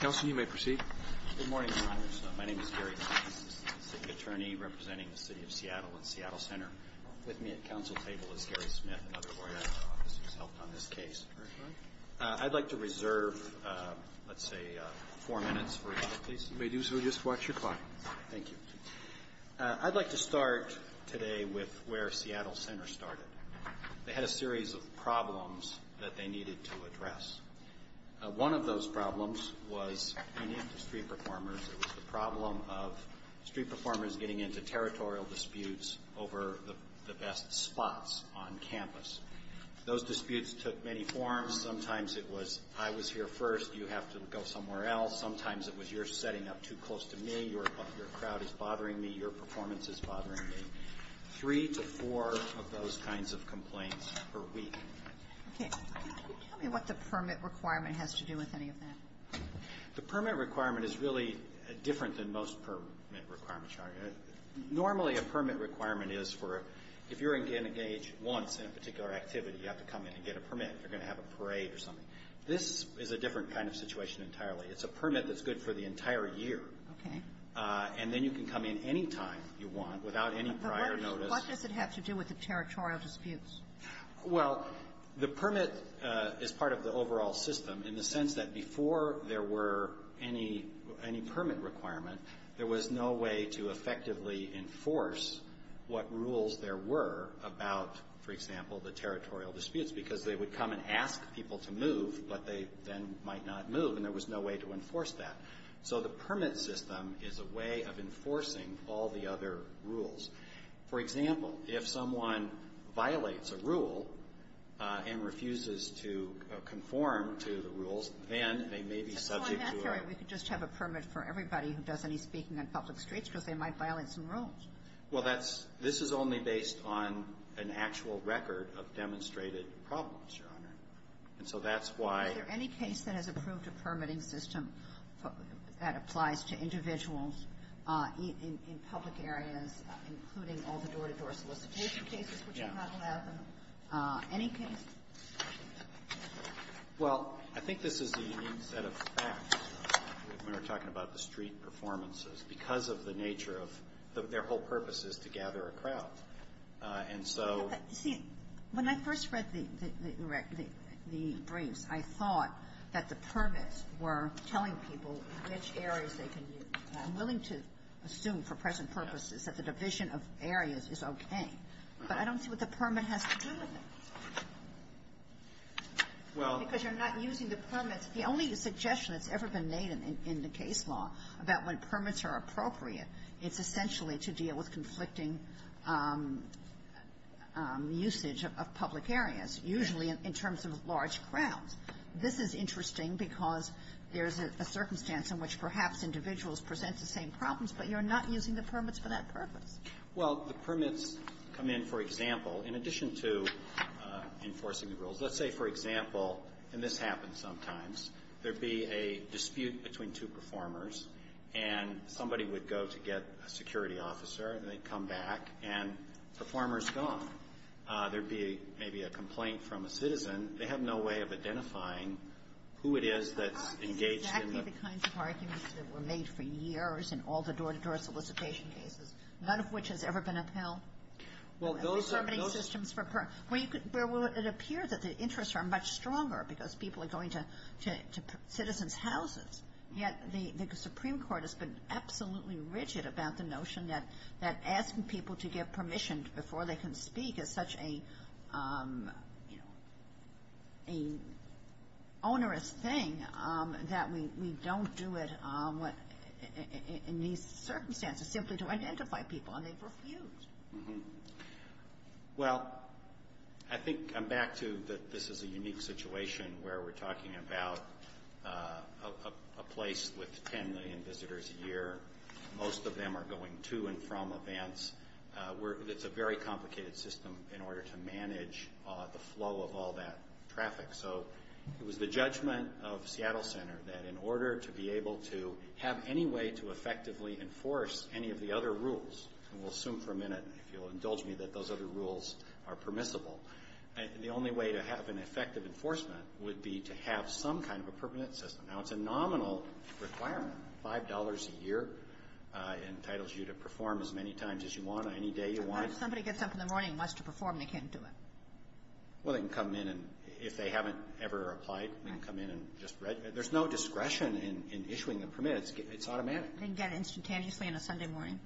Council, you may proceed. Good morning, Your Honors. My name is Gary Smith. I'm a City Attorney representing the City of Seattle and Seattle Center. With me at the Council table is Gary Smith, another lawyer who has helped on this case. I'd like to reserve, let's say, four minutes for you. You may do so. Just watch your clock. Thank you. I'd like to start today with where Seattle Center started. They had a series of problems that they needed to address. One of those problems was, unique to street performers, it was the problem of street performers getting into territorial disputes over the best spots on campus. Those disputes took many forms. Sometimes it was, I was here first, you have to go somewhere else. Sometimes it was, you're setting up too close to me, your crowd is bothering me, your performance is bothering me. Three to four of those kinds of complaints per week. Can you tell me what the permit requirement has to do with any of that? The permit requirement is really different than most permit requirements are. Normally a permit requirement is for, if you're engaged once in a particular activity, you have to come in and get a permit. You're going to have a parade or something. This is a different kind of situation entirely. It's a permit that's good for the entire year. Okay. And then you can come in any time you want without any prior notice. What does it have to do with the territorial disputes? Well, the permit is part of the overall system in the sense that before there were any permit requirement, there was no way to effectively enforce what rules there were about, for example, the territorial disputes. Because they would come and ask people to move, but they then might not move, and there was no way to enforce that. So the permit system is a way of enforcing all the other rules. For example, if someone violates a rule and refuses to conform to the rules, then they may be subject to a permit. We could just have a permit for everybody who does any speaking on public streets, because they might violate some rules. Well, that's, this is only based on an actual record of demonstrated problems, Your Honor. And so that's why. Is there any case that has approved a permitting system that applies to individuals in public areas, in general? Including all the door-to-door solicitation cases which are not allowed in any case? Well, I think this is a unique set of facts when we're talking about the street performances because of the nature of their whole purpose is to gather a crowd. And so you see, when I first read the briefs, I thought that the permits were telling people which areas they can use. I'm willing to assume, for present purposes, that the division of areas is okay, but I don't see what the permit has to do with it. Well. Because you're not using the permits. The only suggestion that's ever been made in the case law about when permits are appropriate, it's essentially to deal with conflicting usage of public areas, usually in terms of large crowds. This is interesting because there's a circumstance in which perhaps individuals present the same problems, but you're not using the permits for that purpose. Well, the permits come in, for example, in addition to enforcing the rules. Let's say, for example, and this happens sometimes, there'd be a dispute between two performers, and somebody would go to get a security officer, and they'd come back, and the performer's gone. There'd be maybe a complaint from a citizen. They have no way of identifying who it is that's engaged in the permits. But aren't these exactly the kinds of arguments that were made for years in all the door-to-door solicitation cases, none of which has ever been upheld? Well, those are. Well, it appears that the interests are much stronger because people are going to citizens' houses, yet the Supreme Court has been absolutely rigid about the notion that asking people to give permission before they can speak is such an onerous thing that we don't do it in these circumstances simply to identify people, and they've refused. Well, I think I'm back to that this is a unique situation where we're talking about a place with 10 million visitors a year. Most of them are going to and from events. It's a very complicated system in order to manage the flow of all that traffic. So it was the judgment of Seattle Center that in order to be able to have any way to effectively enforce any of the other rules, and we'll assume for a minute, if you'll indulge me, that those other rules are permissible, the only way to have an effective enforcement would be to have some kind of a permanent system. Now, it's a nominal requirement, $5 a year entitles you to perform as many times as you want on any day you want. But what if somebody gets up in the morning and wants to perform and they can't do it? Well, they can come in, and if they haven't ever applied, they can come in and just register. There's no discretion in issuing a permit. It's automatic. They can get it instantaneously on a Sunday morning?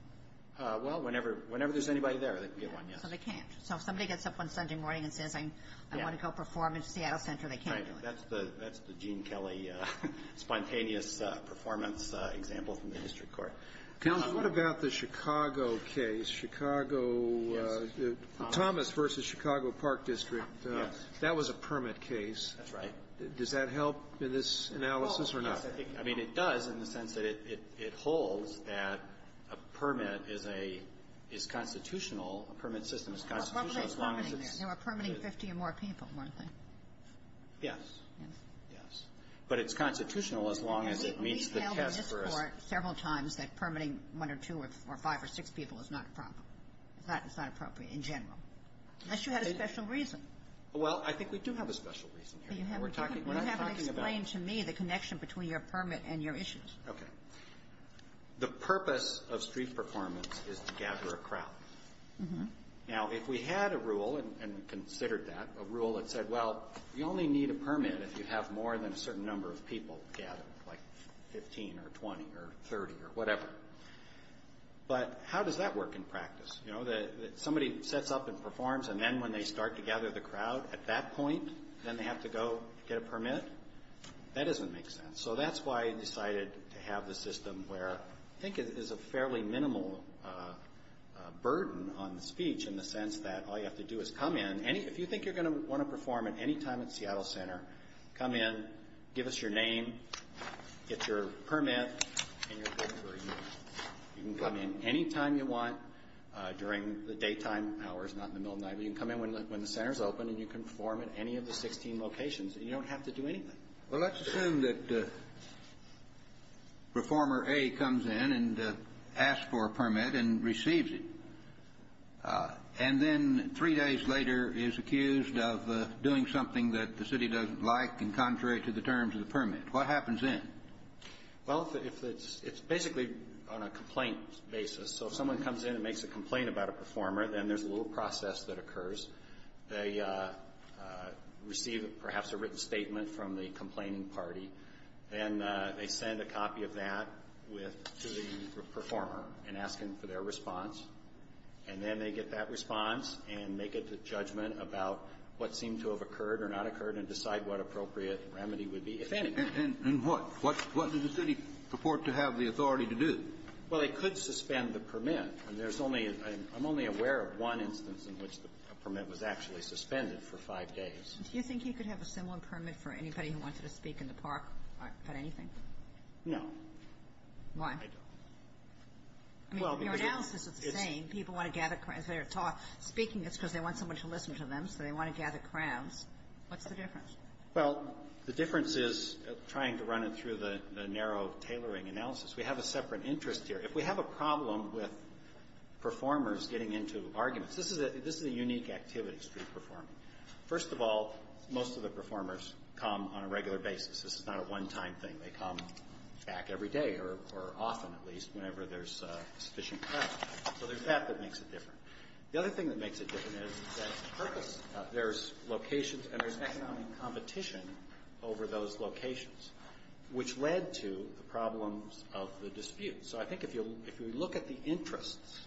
Well, whenever there's anybody there, they can get one, yes. So they can't. So if somebody gets up on Sunday morning and says, I want to go perform in Seattle Center, they can't do it. Right. That's the Gene Kelly spontaneous performance example from the district court. Now, what about the Chicago case, Chicago Thomas v. Chicago Park District? Yes. That was a permit case. That's right. Does that help in this analysis or not? Well, yes. I mean, it does in the sense that it holds that a permit is a – is constitutional, a permit system is constitutional as long as it's – But what were they permitting there? They were permitting 50 or more people, weren't they? Yes. Yes. But it's constitutional as long as it meets the test for us. I've heard several times that permitting one or two or five or six people is not a problem. It's not appropriate in general. Unless you had a special reason. Well, I think we do have a special reason here. You haven't explained to me the connection between your permit and your issues. Okay. The purpose of street performance is to gather a crowd. Mm-hmm. Now, if we had a rule and considered that, a rule that said, well, you only need a permit if you have more than a certain number of people gathered, like 15 or 20 or 30 or whatever. But how does that work in practice? You know, somebody sets up and performs, and then when they start to gather the crowd, at that point, then they have to go get a permit? That doesn't make sense. So that's why I decided to have the system where I think it is a fairly minimal burden on the speech in the sense that all you have to do is come in. If you think you're going to want to perform at any time at Seattle Center, come in, give us your name, get your permit, and you're good to go. You can come in any time you want during the daytime hours, not in the middle of the night. But you can come in when the center is open, and you can perform at any of the 16 locations. You don't have to do anything. Well, let's assume that performer A comes in and asks for a permit and receives it. And then three days later is accused of doing something that the city doesn't like in contrary to the terms of the permit. What happens then? Well, it's basically on a complaint basis. So if someone comes in and makes a complaint about a performer, then there's a little process that occurs. They receive perhaps a written statement from the complaining party, then they send a copy of that with the performer and ask him for their response. And then they get that response and make a judgment about what seemed to have occurred or not occurred and decide what appropriate remedy would be, if any. And what? What does the city purport to have the authority to do? Well, they could suspend the permit. And there's only one instance in which the permit was actually suspended for five days. Do you think you could have a similar permit for anybody who wanted to speak in the park about anything? No. Why? I don't. I mean, in your analysis, it's the same. People want to gather crowds. If they're speaking, it's because they want someone to listen to them, so they want to gather crowds. What's the difference? Well, the difference is trying to run it through the narrow tailoring analysis. We have a separate interest here. If we have a problem with performers getting into arguments, this is a unique activity, street performing. First of all, most of the performers come on a regular basis. This is not a one-time thing. They come back every day or often, at least, whenever there's sufficient crowd. So there's that that makes it different. The other thing that makes it different is that there's locations and there's economic competition over those locations, which led to the problems of the dispute. So I think if you look at the interests,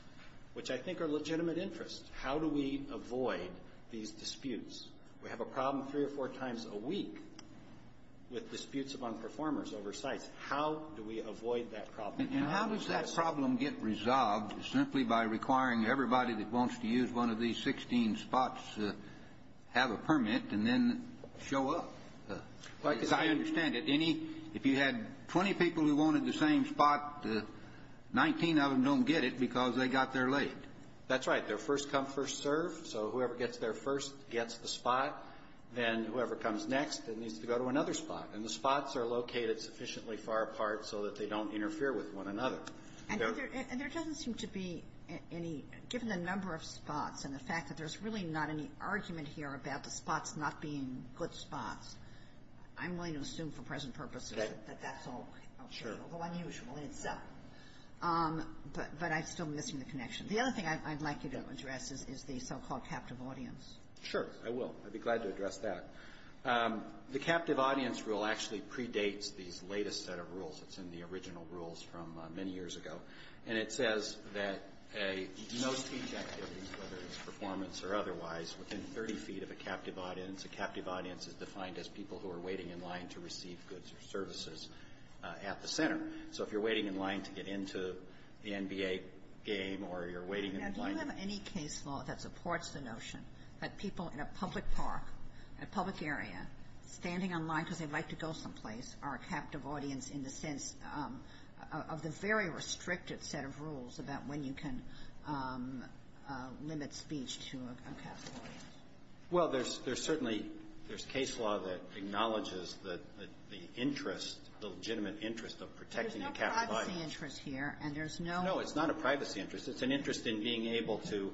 which I think are legitimate interests, how do we avoid these disputes? We have a problem three or four times a week with disputes among performers over sites. How do we avoid that problem? And how does that problem get resolved simply by requiring everybody that wants to use one of these 16 spots have a permit and then show up? As I understand it, if you had 20 people who wanted the same spot, 19 of them don't get it because they got there late. That's right. They're first come, first served. So whoever gets there first gets the spot. Then whoever comes next then needs to go to another spot. And the spots are located sufficiently far apart so that they don't interfere with one another. And there doesn't seem to be any, given the number of spots and the fact that there's really not any argument here about the spots not being good spots. I'm willing to assume for present purposes that that's all okay. Sure. Although unusual in itself. But I'm still missing the connection. The other thing I'd like you to address is the so-called captive audience. Sure, I will. I'd be glad to address that. The captive audience rule actually predates these latest set of rules. It's in the original rules from many years ago. And it says that most speech activities, whether it's performance or otherwise, within 30 feet of a captive audience, a captive audience is defined as people who are waiting in line to receive goods or services at the center. So if you're waiting in line to get into the NBA game or you're waiting in line to go to the gym. Now, do you have any case law that supports the notion that people in a public park, a public area, standing in line because they'd like to go someplace are a captive audience in the sense of the very restricted set of rules about when you can limit speech to a captive audience? Well, there's certainly case law that acknowledges the interest, the legitimate interest of protecting a captive audience. But there's no privacy interest here, and there's no ---- No, it's not a privacy interest. It's an interest in being able to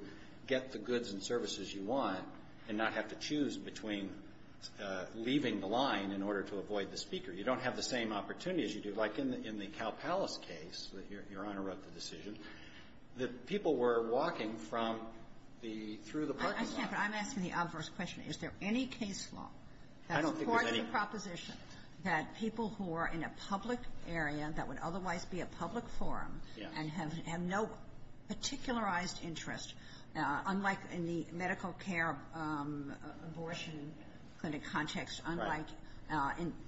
get the goods and services you want and not have to choose between leaving the line in order to avoid the speaker. You don't have the same opportunity as you do. Like in the Cal Palace case that Your Honor wrote the decision, the people were walking from the, through the parking lot. I understand, but I'm asking the obvious question. Is there any case law that supports the proposition that people who are in a public area that would otherwise be a public forum and have no particularized interest, unlike in the medical care abortion clinic context, unlike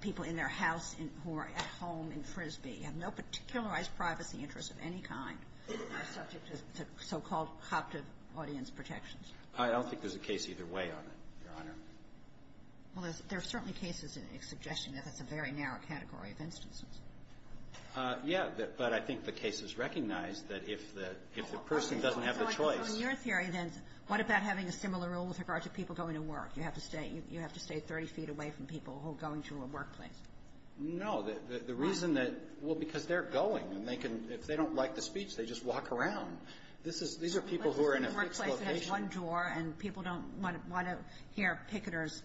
people in their house who are at home in Frisbee, have no particularized privacy interest of any kind are subject to so-called captive audience protections? I don't think there's a case either way on it, Your Honor. Well, there's certainly cases in the suggestion that that's a very narrow category of instances. Yeah, but I think the case is recognized that if the person doesn't have the choice So in your theory, then, what about having a similar rule with regard to people going to work? You have to stay 30 feet away from people who are going to a workplace. No. The reason that ---- Why? Well, because they're going. And they can, if they don't like the speech, they just walk around. This is, these are people who are in a fixed location. One drawer, and people don't want to hear picketers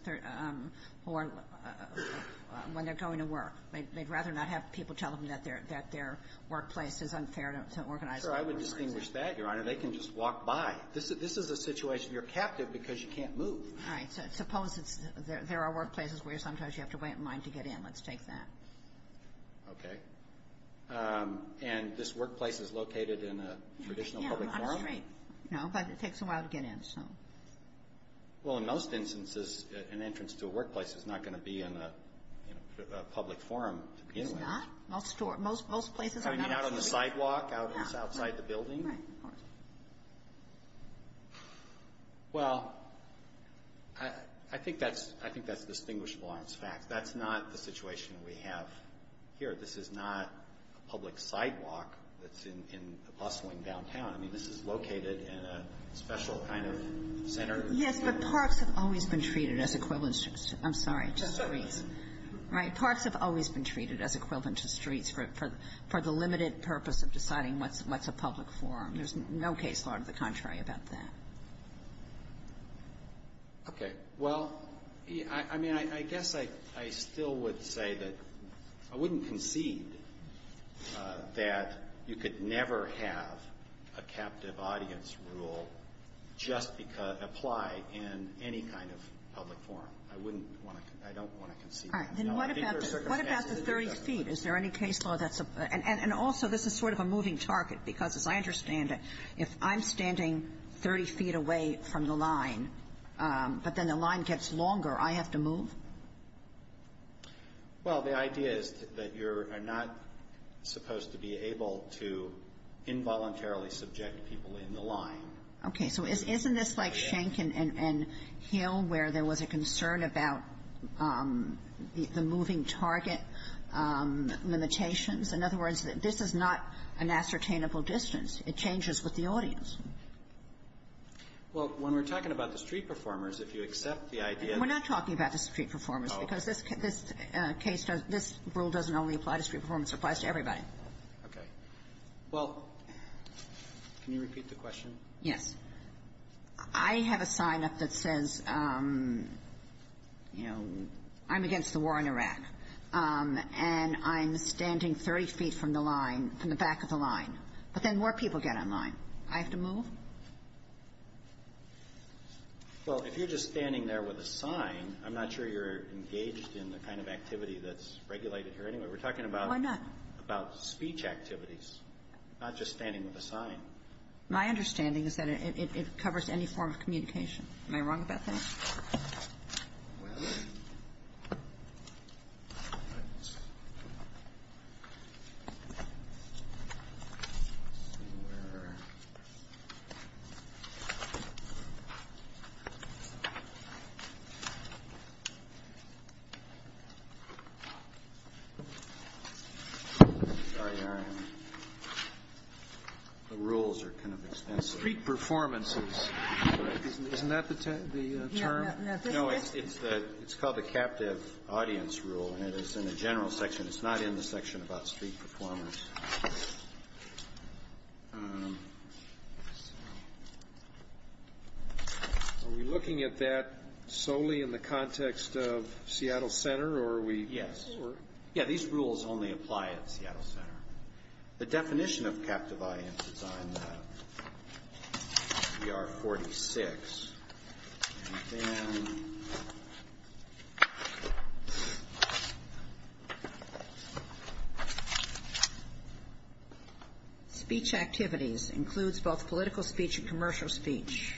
when they're going to work. They'd rather not have people tell them that their workplace is unfair to organize people's workplaces. Sure. I would distinguish that, Your Honor. They can just walk by. This is a situation. You're captive because you can't move. All right. So suppose there are workplaces where sometimes you have to wait in line to get in. Let's take that. Okay. And this workplace is located in a traditional public forum? Yeah, on a street. No, but it takes a while to get in, so. Well, in most instances, an entrance to a workplace is not going to be in a public forum to begin with. It's not? Most places are not open. I mean, out on the sidewalk, outside the building? Right, of course. Well, I think that's distinguishable. That's fact. That's not the situation we have here. This is not a public sidewalk that's in a bustling downtown. I mean, this is located in a special kind of center. Yes, but parks have always been treated as equivalent to streets. I'm sorry. Just streets. Right? Parks have always been treated as equivalent to streets for the limited purpose of deciding what's a public forum. There's no case law to the contrary about that. Okay. Well, I mean, I guess I still would say that I wouldn't concede that you could never have a captive audience rule just apply in any kind of public forum. I wouldn't want to – I don't want to concede that. All right. Then what about the 30 feet? Is there any case law that's – and also, this is sort of a moving target, because as I understand it, if I'm standing 30 feet away from the line, but then the line gets longer, I have to move? Well, the idea is that you're not supposed to be able to involuntarily subject people in the line. Okay. So isn't this like Schenck and Hill where there was a concern about the moving target limitations? In other words, this is not an ascertainable distance. It changes with the audience. Well, when we're talking about the street performers, if you accept the idea that – We're not talking about the street performers. Oh, okay. Because this rule doesn't only apply to street performers. It applies to everybody. Okay. Well, can you repeat the question? Yes. I have a sign up that says, you know, I'm against the war in Iraq, and I'm standing 30 feet from the line – from the back of the line, but then more people get in line. I have to move? Well, if you're just standing there with a sign, I'm not sure you're engaged in the kind of activity that's regulated here anyway. We're talking about speech activities, not just standing with a sign. My understanding is that it covers any form of communication. Am I wrong about that? Well, let's see where – Sorry. The rules are kind of extensive. Street performances. Isn't that the term? No, it's called the captive audience rule, and it is in the general section. It's not in the section about street performers. Are we looking at that solely in the context of Seattle Center, or are we – Yes. Yeah, these rules only apply at Seattle Center. The definition of captive audience is on the R46. And then speech activities includes both political speech and commercial speech.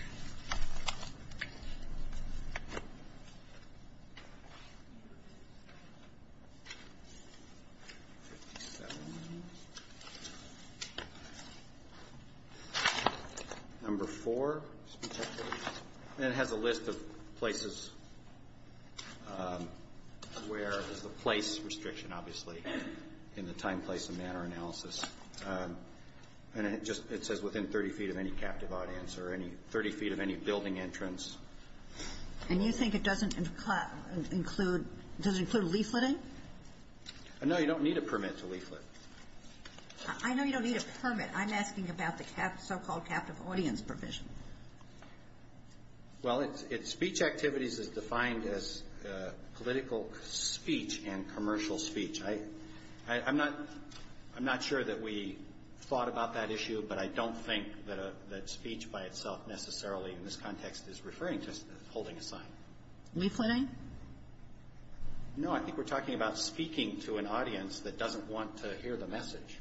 Number four, speech activities. And it has a list of places where there's a place restriction, obviously, in the time, place, and manner analysis. And it says within 30 feet of any captive audience or 30 feet of any building entrance. And you think it doesn't include leafleting? No, you don't need a permit to leaflet. I know you don't need a permit. I'm asking about the so-called captive audience provision. Well, speech activities is defined as political speech and commercial speech. I'm not sure that we thought about that issue, but I don't think that speech by itself necessarily in this context is referring to holding a sign. Leafleting? No, I think we're talking about speaking to an audience that doesn't want to hear the message.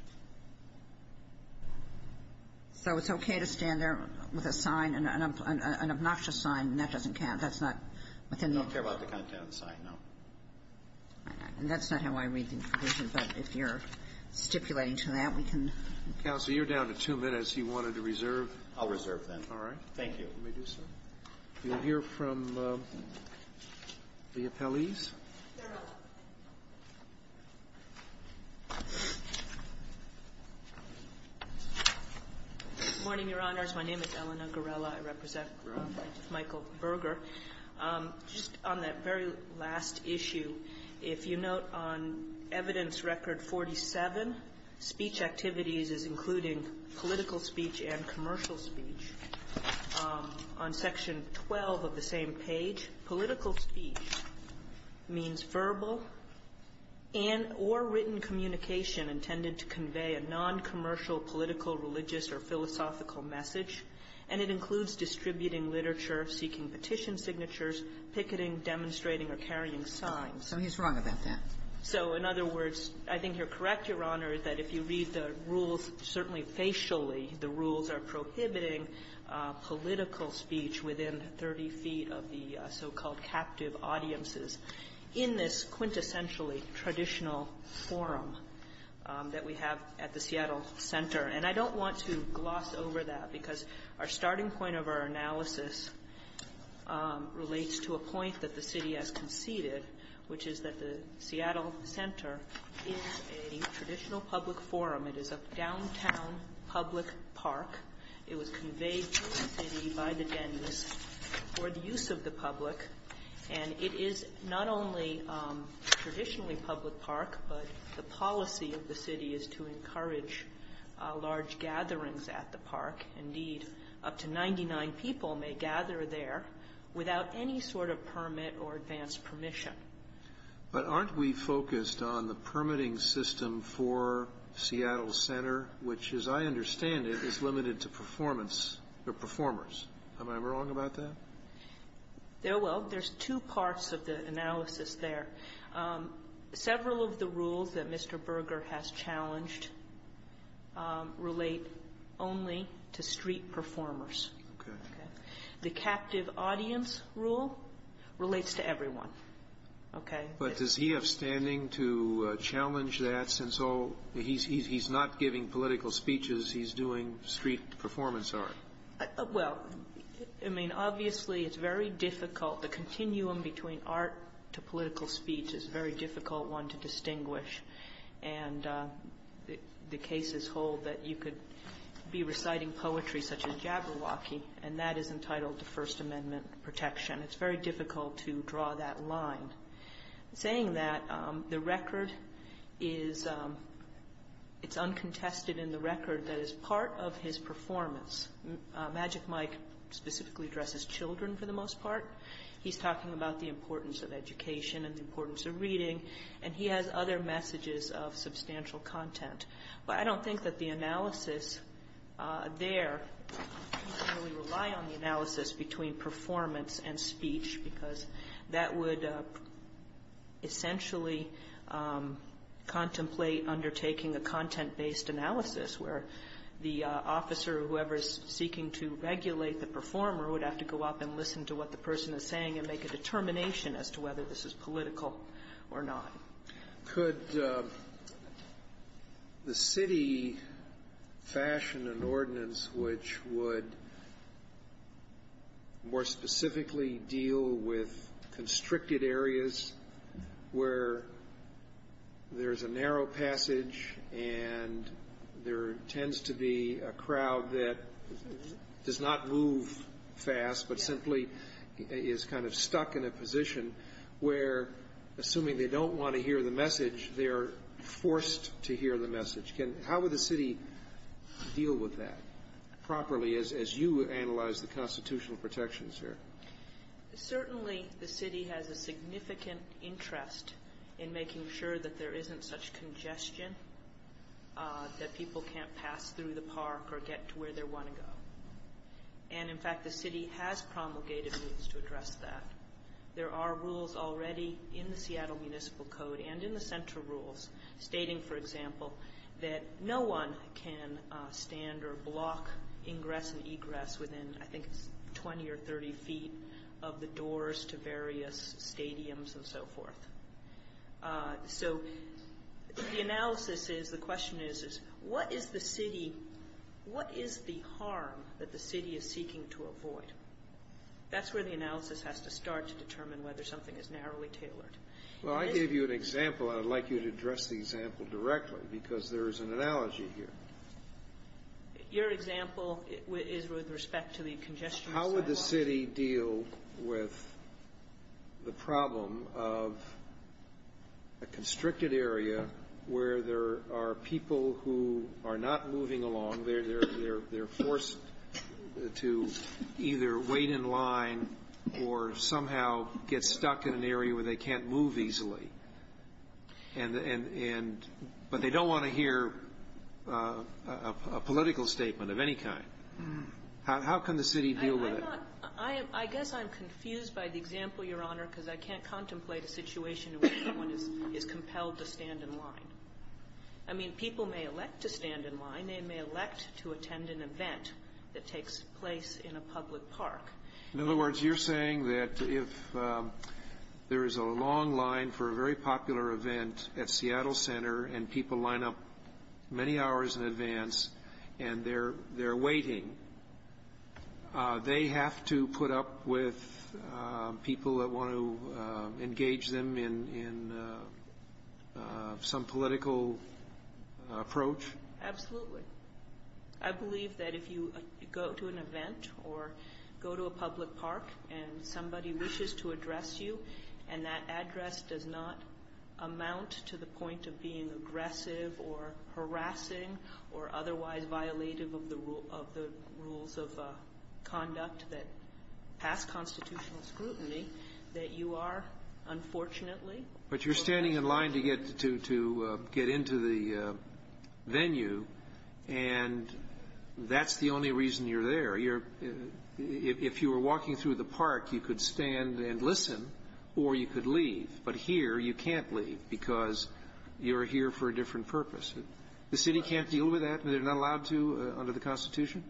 So it's okay to stand there with a sign, an obnoxious sign, and that doesn't count? We don't care about the content of the sign, no. And that's not how I read the provision, but if you're stipulating to that, we can. Counsel, you're down to two minutes. You wanted to reserve? I'll reserve then. All right. Thank you. Let me do so. We'll hear from the appellees. Good morning, Your Honors. My name is Eleanor Gorella. I represent Michael Berger. Just on that very last issue, if you note on evidence record 47, speech activities is including political speech and commercial speech. On section 12 of the same page, political speech means verbal and or written communication intended to convey a noncommercial political, religious, or philosophical message, and it includes distributing literature, seeking petition signatures, picketing, demonstrating, or carrying signs. So he's wrong about that. So, in other words, I think you're correct, Your Honor, that if you read the rules, certainly facially, the rules are prohibiting political speech within 30 feet of the so-called captive audiences in this quintessentially traditional forum that we have at the Seattle Center, and I don't want to gloss over that, because our starting point of our analysis relates to a point that the city has conceded, which is that the Seattle Center is a traditional public forum. It is a downtown public park. It was conveyed to the city by the dentist for the use of the public, and it is not only traditionally public park, but the policy of the city is to encourage large gatherings at the park. Indeed, up to 99 people may gather there without any sort of permit or advanced permission. But aren't we focused on the permitting system for Seattle Center, which, as I understand it, is limited to performers? Am I wrong about that? Well, there's two parts of the analysis there. Several of the rules that Mr. Berger has challenged relate only to street performers. Okay. The captive audience rule relates to everyone. Okay. But does he have standing to challenge that, since all he's not giving political speeches, he's doing street performance art? Well, I mean, obviously it's very difficult. The continuum between art to political speech is a very difficult one to distinguish, and the cases hold that you could be reciting poetry such as Jabberwocky, and that is entitled to First Amendment protection. It's very difficult to draw that line. Saying that, the record is uncontested in the record that is part of his performance. Magic Mike specifically addresses children for the most part. He's talking about the importance of education and the importance of reading, and he has other messages of substantial content. But I don't think that the analysis there, I don't really rely on the analysis between performance and speech, because that would essentially contemplate undertaking a content-based analysis, where the officer, whoever is seeking to regulate the performer, would have to go up and listen to what the person is saying and make a determination as to whether this is political or not. Could the city fashion an ordinance which would more specifically deal with constricted areas where there's a narrow passage and there tends to be a crowd that does not move fast, but simply is kind of stuck in a position where, assuming they don't want to hear the message, they're forced to hear the message? How would the city deal with that properly as you analyze the constitutional protections here? Certainly the city has a significant interest in making sure that there isn't such congestion, that people can't pass through the park or get to where they want to go. And, in fact, the city has promulgated moves to address that. There are rules already in the Seattle Municipal Code and in the central rules stating, for example, that no one can stand or block ingress and egress within, I think, 20 or 30 feet of the doors to various stadiums and so forth. So the analysis is, the question is, is what is the city, what is the harm that the city is seeking to avoid? That's where the analysis has to start to determine whether something is narrowly tailored. Well, I gave you an example. I'd like you to address the example directly because there is an analogy here. Your example is with respect to the congestion. How would the city deal with the problem of a constricted area where there are people who are not moving along, they're forced to either wait in line or somehow get stuck in an area where they can't move easily, but they don't want to hear a political statement of any kind? How can the city deal with it? I guess I'm confused by the example, Your Honor, because I can't contemplate a situation in which someone is compelled to stand in line. I mean, people may elect to stand in line. They may elect to attend an event that takes place in a public park. In other words, you're saying that if there is a long line for a very popular event at Seattle Center and people line up many hours in advance and they're waiting, they have to put up with people that want to engage them in some political approach? Absolutely. I believe that if you go to an event or go to a public park and somebody wishes to address you and that address does not amount to the point of being aggressive or harassing or otherwise violative of the rules of conduct that pass constitutional scrutiny, that you are, unfortunately, But you're standing in line to get into the venue, and that's the only reason you're there. If you were walking through the park, you could stand and listen or you could leave. But here, you can't leave because you're here for a different purpose. The city can't deal with that? They're not allowed to under the Constitution?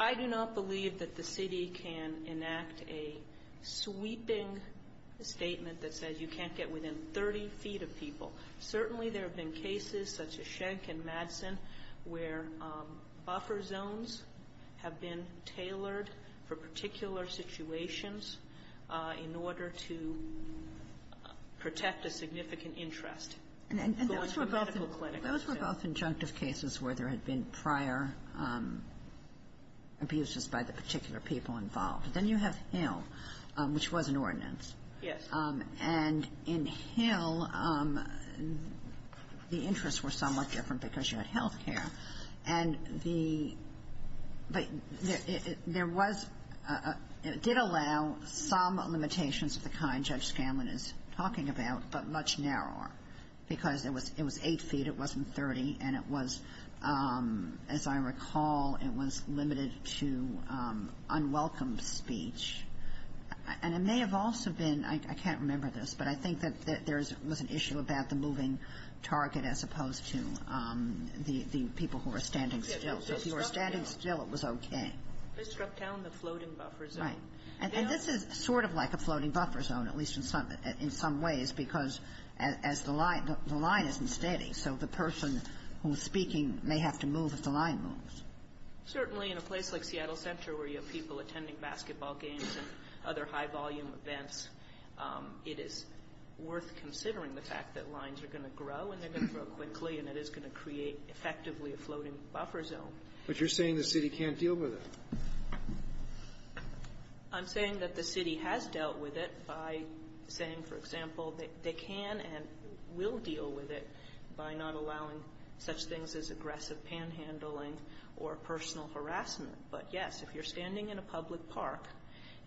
I do not believe that the city can enact a sweeping statement that says you can't get within 30 feet of people. Certainly, there have been cases such as Schenck and Madsen where buffer zones have been tailored for particular situations in order to protect a significant interest. Those were both conjunctive cases where there had been prior abuses by the particular people involved. Then you have Hill, which was an ordinance. Yes. And in Hill, the interests were somewhat different because you had health care. And there was – it did allow some limitations of the kind Judge Scanlon is talking about, but much narrower, because it was 8 feet, it wasn't 30, and it was, as I recall, it was limited to unwelcome speech. And it may have also been – I can't remember this, but I think that there was an issue about the moving target as opposed to the people who were standing still. So if you were standing still, it was okay. They struck down the floating buffer zone. Right. And this is sort of like a floating buffer zone, at least in some ways, because as the line isn't steady, so the person who's speaking may have to move if the line moves. Certainly in a place like Seattle Center where you have people attending basketball games and other high-volume events, it is worth considering the fact that lines are going to grow, and they're going to grow quickly, and it is going to create effectively a floating buffer zone. But you're saying the city can't deal with it. I'm saying that the city has dealt with it by saying, for example, they can and will deal with it by not allowing such things as aggressive panhandling or personal harassment. But, yes, if you're standing in a public park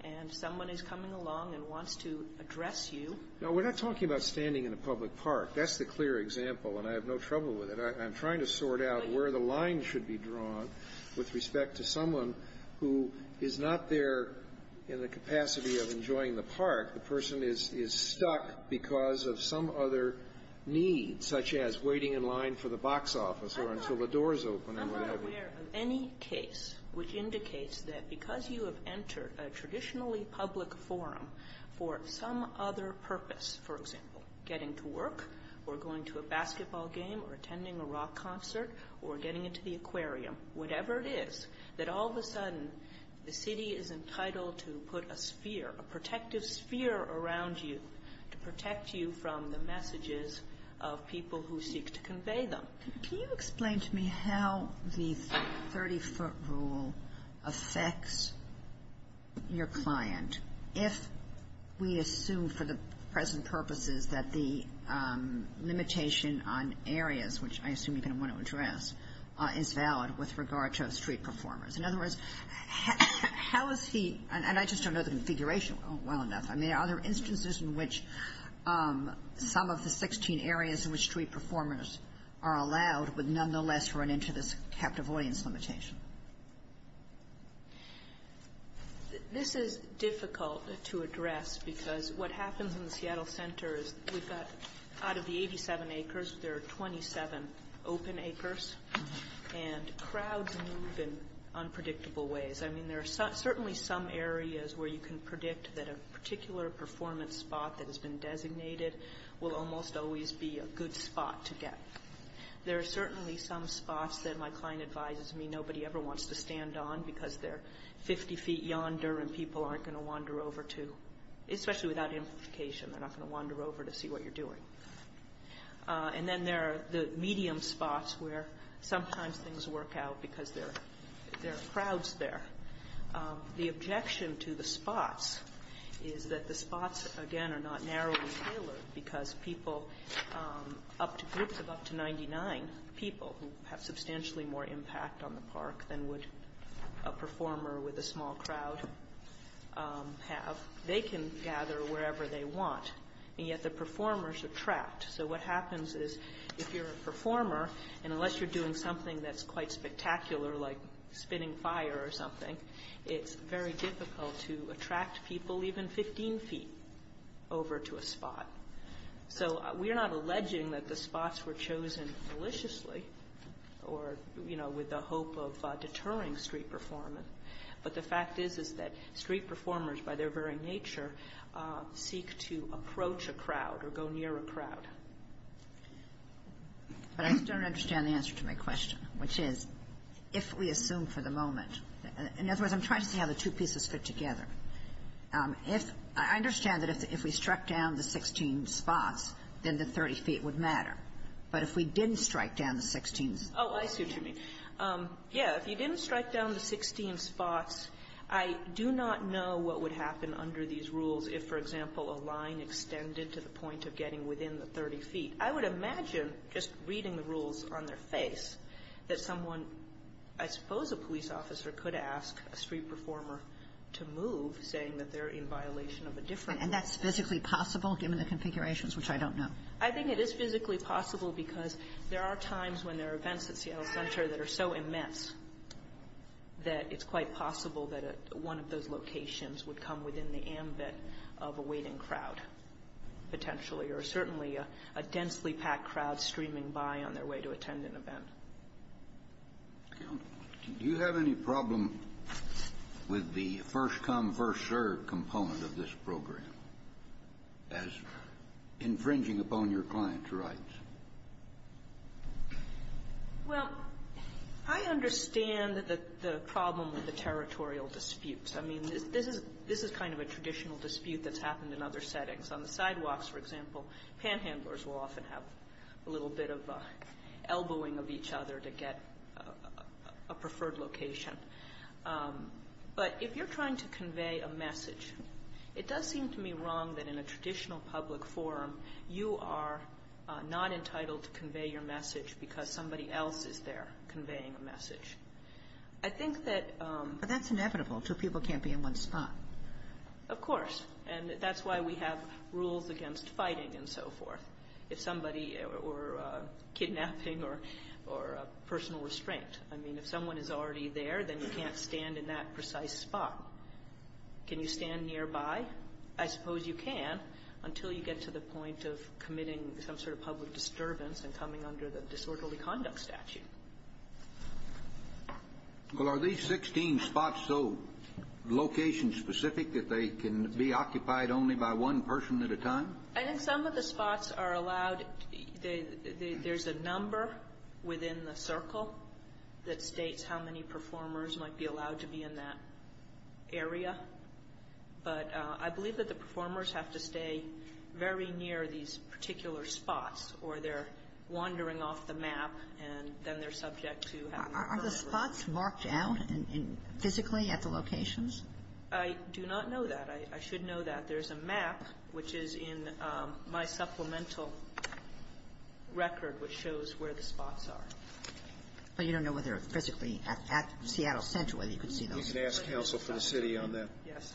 and someone is coming along and wants to address you – No, we're not talking about standing in a public park. That's the clear example, and I have no trouble with it. I'm trying to sort out where the line should be drawn with respect to someone who is not there in the capacity of enjoying the park. The person is stuck because of some other need, such as waiting in line for the box office or until the doors open and what have you. I'm not aware of any case which indicates that because you have entered a traditionally public forum for some other purpose, for example, getting to work or going to a basketball game or attending a rock concert or getting into the aquarium, whatever it is, that all of a sudden the city is entitled to put a sphere, a protective sphere around you to protect you from the messages of people who seek to convey them. Can you explain to me how the 30-foot rule affects your client if we assume for the present purposes that the limitation on areas, which I assume you're going to want to address, is valid with regard to street performers? In other words, how is he – and I just don't know the configuration well enough. I mean, are there instances in which some of the 16 areas in which street performers are allowed would nonetheless run into this captive audience limitation? This is difficult to address because what happens in the Seattle Center is we've got – out of the 87 acres, there are 27 open acres, and crowds move in unpredictable ways. I mean, there are certainly some areas where you can predict that a particular performance spot that has been designated will almost always be a good spot to get. There are certainly some spots that my client advises me nobody ever wants to stand on because they're 50 feet yonder and people aren't going to wander over to, especially without amplification. They're not going to wander over to see what you're doing. And then there are the medium spots where sometimes things work out because there are crowds there. The objection to the spots is that the spots, again, are not narrow and tailored because people up to – groups of up to 99 people have substantially more impact on the park than would a performer with a small crowd have. They can gather wherever they want, and yet the performers attract. So what happens is if you're a performer, and unless you're doing something that's quite spectacular like spinning fire or something, it's very difficult to attract people even 15 feet over to a spot. So we're not alleging that the spots were chosen maliciously or, you know, with the hope of deterring street performance, but the fact is is that street performers by their very nature seek to approach a crowd or go near a crowd. But I still don't understand the answer to my question, which is if we assume for the moment – in other words, I'm trying to see how the two pieces fit together. If – I understand that if we struck down the 16 spots, then the 30 feet would matter. But if we didn't strike down the 16 spots? Oh, I see what you mean. Yeah, if you didn't strike down the 16 spots, I do not know what would happen under these rules if, for example, a line extended to the point of getting within the 30 feet. I would imagine just reading the rules on their face that someone – I suppose a police officer could ask a street performer to move, saying that they're in violation of a different rule. And that's physically possible, given the configurations, which I don't know? I think it is physically possible because there are times when there are events at Seattle Center that are so immense that it's quite possible that one of those locations would come within the ambit of a waiting crowd, potentially, or certainly a densely-packed crowd streaming by on their way to attend an event. Do you have any problem with the first-come, first-served component of this program as infringing upon your client's rights? Well, I understand the problem with the territorial disputes. I mean, this is kind of a traditional dispute that's happened in other settings. On the sidewalks, for example, panhandlers will often have a little bit of elbowing of each other to get a preferred location. It does seem to me wrong that in a traditional public forum, you are not entitled to convey your message because somebody else is there conveying a message. I think that – But that's inevitable. Two people can't be in one spot. Of course. And that's why we have rules against fighting and so forth. If somebody – or kidnapping or personal restraint. I mean, if someone is already there, then you can't stand in that precise spot. Can you stand nearby? I suppose you can until you get to the point of committing some sort of public disturbance and coming under the disorderly conduct statute. Well, are these 16 spots so location-specific that they can be occupied only by one person at a time? I think some of the spots are allowed – there's a number within the circle that states how many performers might be allowed to be in that area. But I believe that the performers have to stay very near these particular spots or they're wandering off the map, and then they're subject to having a preferred location. Are the spots marked out physically at the locations? I do not know that. I should know that. There's a map, which is in my supplemental record, which shows where the spots are. But you don't know whether physically at Seattle Center whether you can see those spots? You can ask counsel for the city on that. Yes.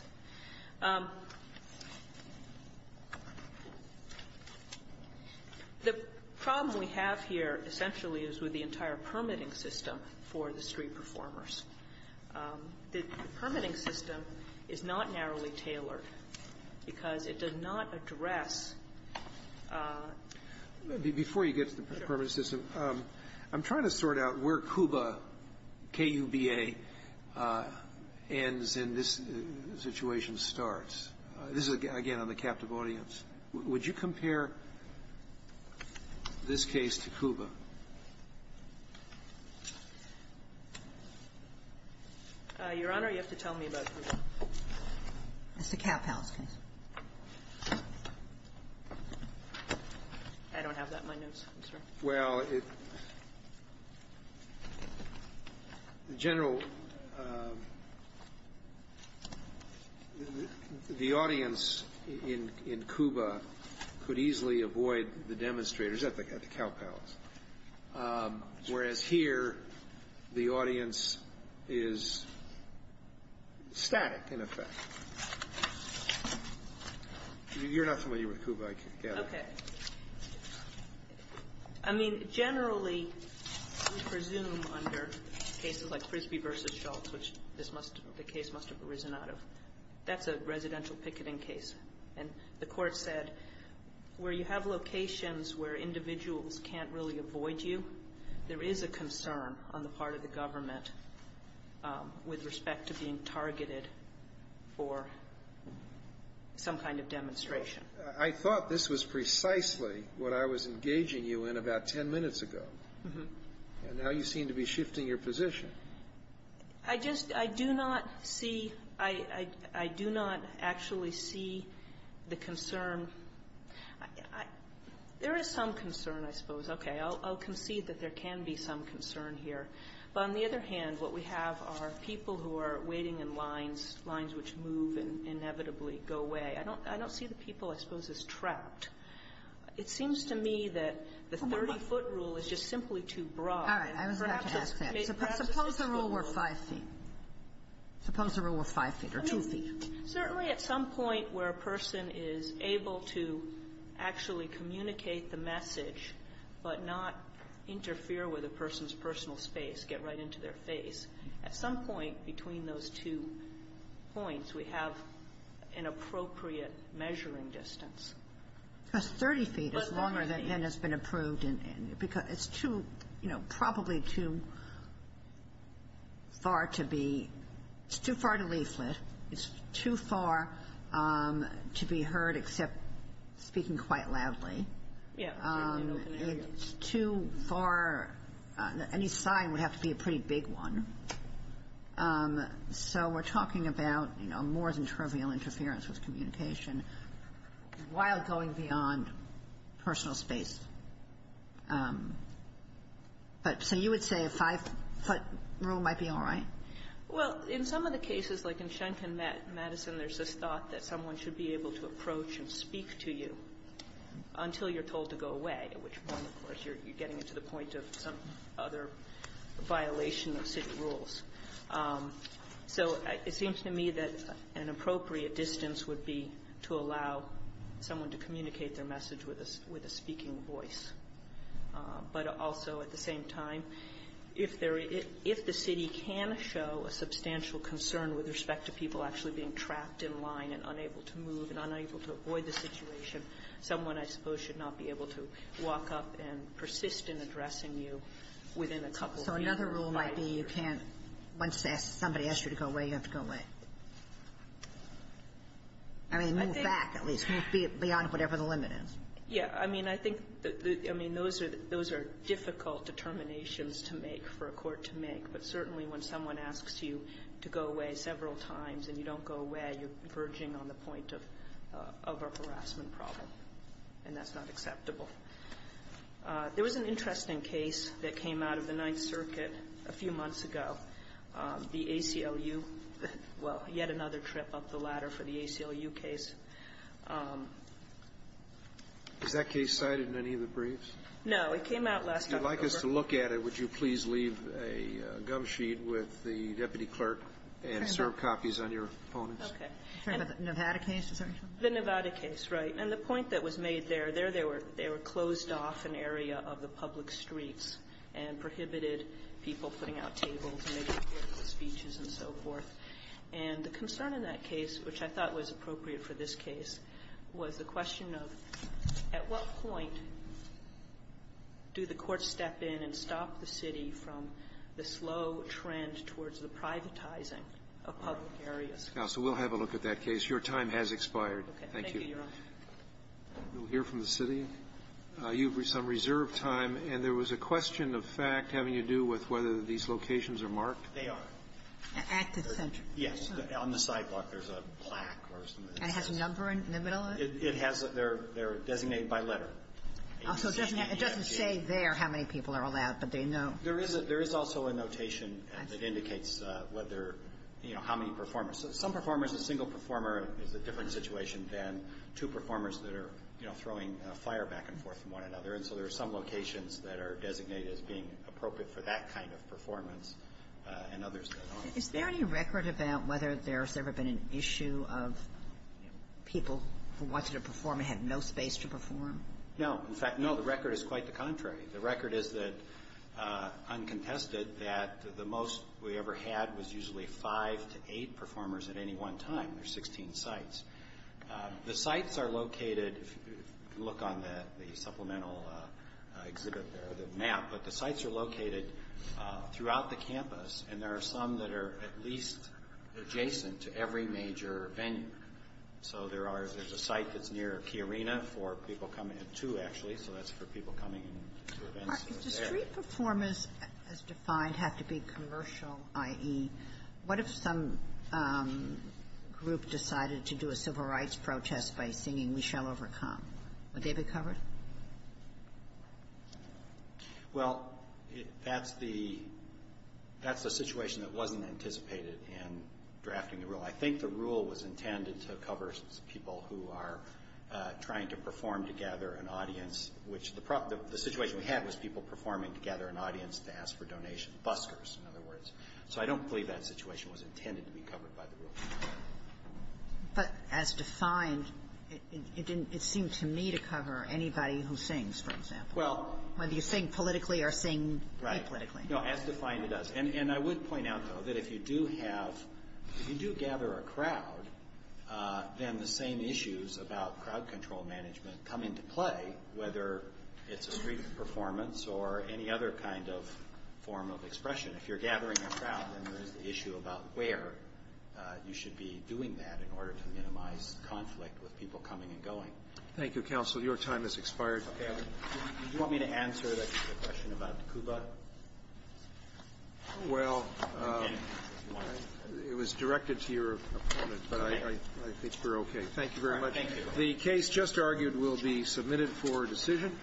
The problem we have here essentially is with the entire permitting system for the street performers. The permitting system is not narrowly tailored because it does not address the permits. Before you get to the permitting system, I'm trying to sort out where Cuba, K-U-B-A, ends and this situation starts. This is, again, on the captive audience. Would you compare this case to Cuba? Your Honor, you have to tell me about Cuba. It's the cap house case. I don't have that in my notes, I'm sorry. Well, the audience in Cuba could easily avoid the demonstrators at the cap house, whereas here the audience is static, in effect. You're not familiar with Cuba, I gather. Okay. I mean, generally we presume under cases like Frisbee v. Schultz, which the case must have arisen out of, that's a residential picketing case. And the Court said where you have locations where individuals can't really avoid you, there is a concern on the part of the government with respect to being targeted for some kind of demonstration. I thought this was precisely what I was engaging you in about ten minutes ago. And now you seem to be shifting your position. I just, I do not see, I do not actually see the concern. There is some concern, I suppose. Okay. I'll concede that there can be some concern here. But on the other hand, what we have are people who are waiting in lines, lines which move and inevitably go away. I don't see the people, I suppose, as trapped. It seems to me that the 30-foot rule is just simply too broad. All right. I was about to ask that. Suppose the rule were 5 feet. Suppose the rule were 5 feet or 2 feet. Certainly at some point where a person is able to actually communicate the message but not interfere with a person's personal space, get right into their face, at some point between those two points, we have an appropriate measuring distance. Because 30 feet is longer than has been approved. Because it's too, you know, probably too far to be, it's too far to leaflet. It's too far to be heard except speaking quite loudly. Yes. It's too far, any sign would have to be a pretty big one. So we're talking about, you know, more than trivial interference with communication while going beyond personal space. But so you would say a 5-foot rule might be all right? Well, in some of the cases, like in Shanken, Madison, there's this thought that someone should be able to approach and speak to you until you're told to go away, at which point, of course, you're getting to the point of some other violation of city rules. So it seems to me that an appropriate distance would be to allow someone to communicate their message with a speaking voice. But also at the same time, if the city can show a substantial concern with respect to people actually being trapped in line and unable to move and unable to avoid the So another rule might be you can't, once somebody asks you to go away, you have to go away. I mean, move back, at least. Move beyond whatever the limit is. Yeah. I mean, I think the — I mean, those are difficult determinations to make for a court to make, but certainly when someone asks you to go away several times and you don't go away, you're verging on the point of a harassment problem. And that's not acceptable. There was an interesting case that came out of the Ninth Circuit a few months ago. The ACLU — well, yet another trip up the ladder for the ACLU case. Has that case cited in any of the briefs? No. It came out last October. If you'd like us to look at it, would you please leave a gum sheet with the deputy clerk and serve copies on your opponents? Okay. Are you talking about the Nevada case? The Nevada case, right. And the point that was made there, there they were — they were closed off an area of the public streets and prohibited people putting out tables and making political speeches and so forth. And the concern in that case, which I thought was appropriate for this case, was the question of at what point do the courts step in and stop the city from the slow trend towards the privatizing of public areas? Counsel, we'll have a look at that case. Your time has expired. Okay. Thank you. Thank you, Your Honor. We'll hear from the city. You have some reserve time. And there was a question of fact having to do with whether these locations are marked. They are. At the center. Yes. On the sidewalk, there's a plaque or something. And it has a number in the middle of it? It has a — they're designated by letter. So it doesn't say there how many people are allowed, but they know. There is a — there is also a notation that indicates whether — you know, how many performers. Some performers — a single performer is a different situation than two performers that are, you know, throwing fire back and forth from one another. And so there are some locations that are designated as being appropriate for that kind of performance and others that aren't. Is there any record about whether there's ever been an issue of people who wanted to perform and had no space to perform? In fact, no. The record is quite the contrary. The record is that, uncontested, that the most we ever had was usually five to eight performers at any one time. There's 16 sites. The sites are located — you can look on the supplemental exhibit there, the map — but the sites are located throughout the campus. And there are some that are at least adjacent to every major venue. So there are — there's a site that's near Key Arena for people coming — two, actually, so that's for people coming to events that are there. Mark, if the street performers, as defined, have to be commercial, i.e., what if some group decided to do a civil rights protest by singing We Shall Overcome? Would they be covered? Well, that's the — that's the situation that wasn't anticipated in drafting the rule. I think the rule was intended to cover people who are trying to perform to gather an audience, which the — the situation we had was people performing to gather an audience to ask for donations, buskers, in other words. So I don't believe that situation was intended to be covered by the rule. But as defined, it didn't — it seemed to me to cover anybody who sings, for example. Well — Whether you sing politically or sing apolitically. Right. No, as defined, it does. And I would point out, though, that if you do have — if you do gather a crowd, then the same issues about crowd control management come into play, whether it's a street performance or any other kind of form of expression. If you're gathering a crowd, then there is the issue about where you should be doing that in order to minimize conflict with people coming and going. Thank you, Counsel. Your time has expired. Okay. I — do you want me to answer the question about Cuba? Well, it was directed to your opponent, but I think we're okay. Thank you very much. Thank you. The case just argued will be submitted for decision.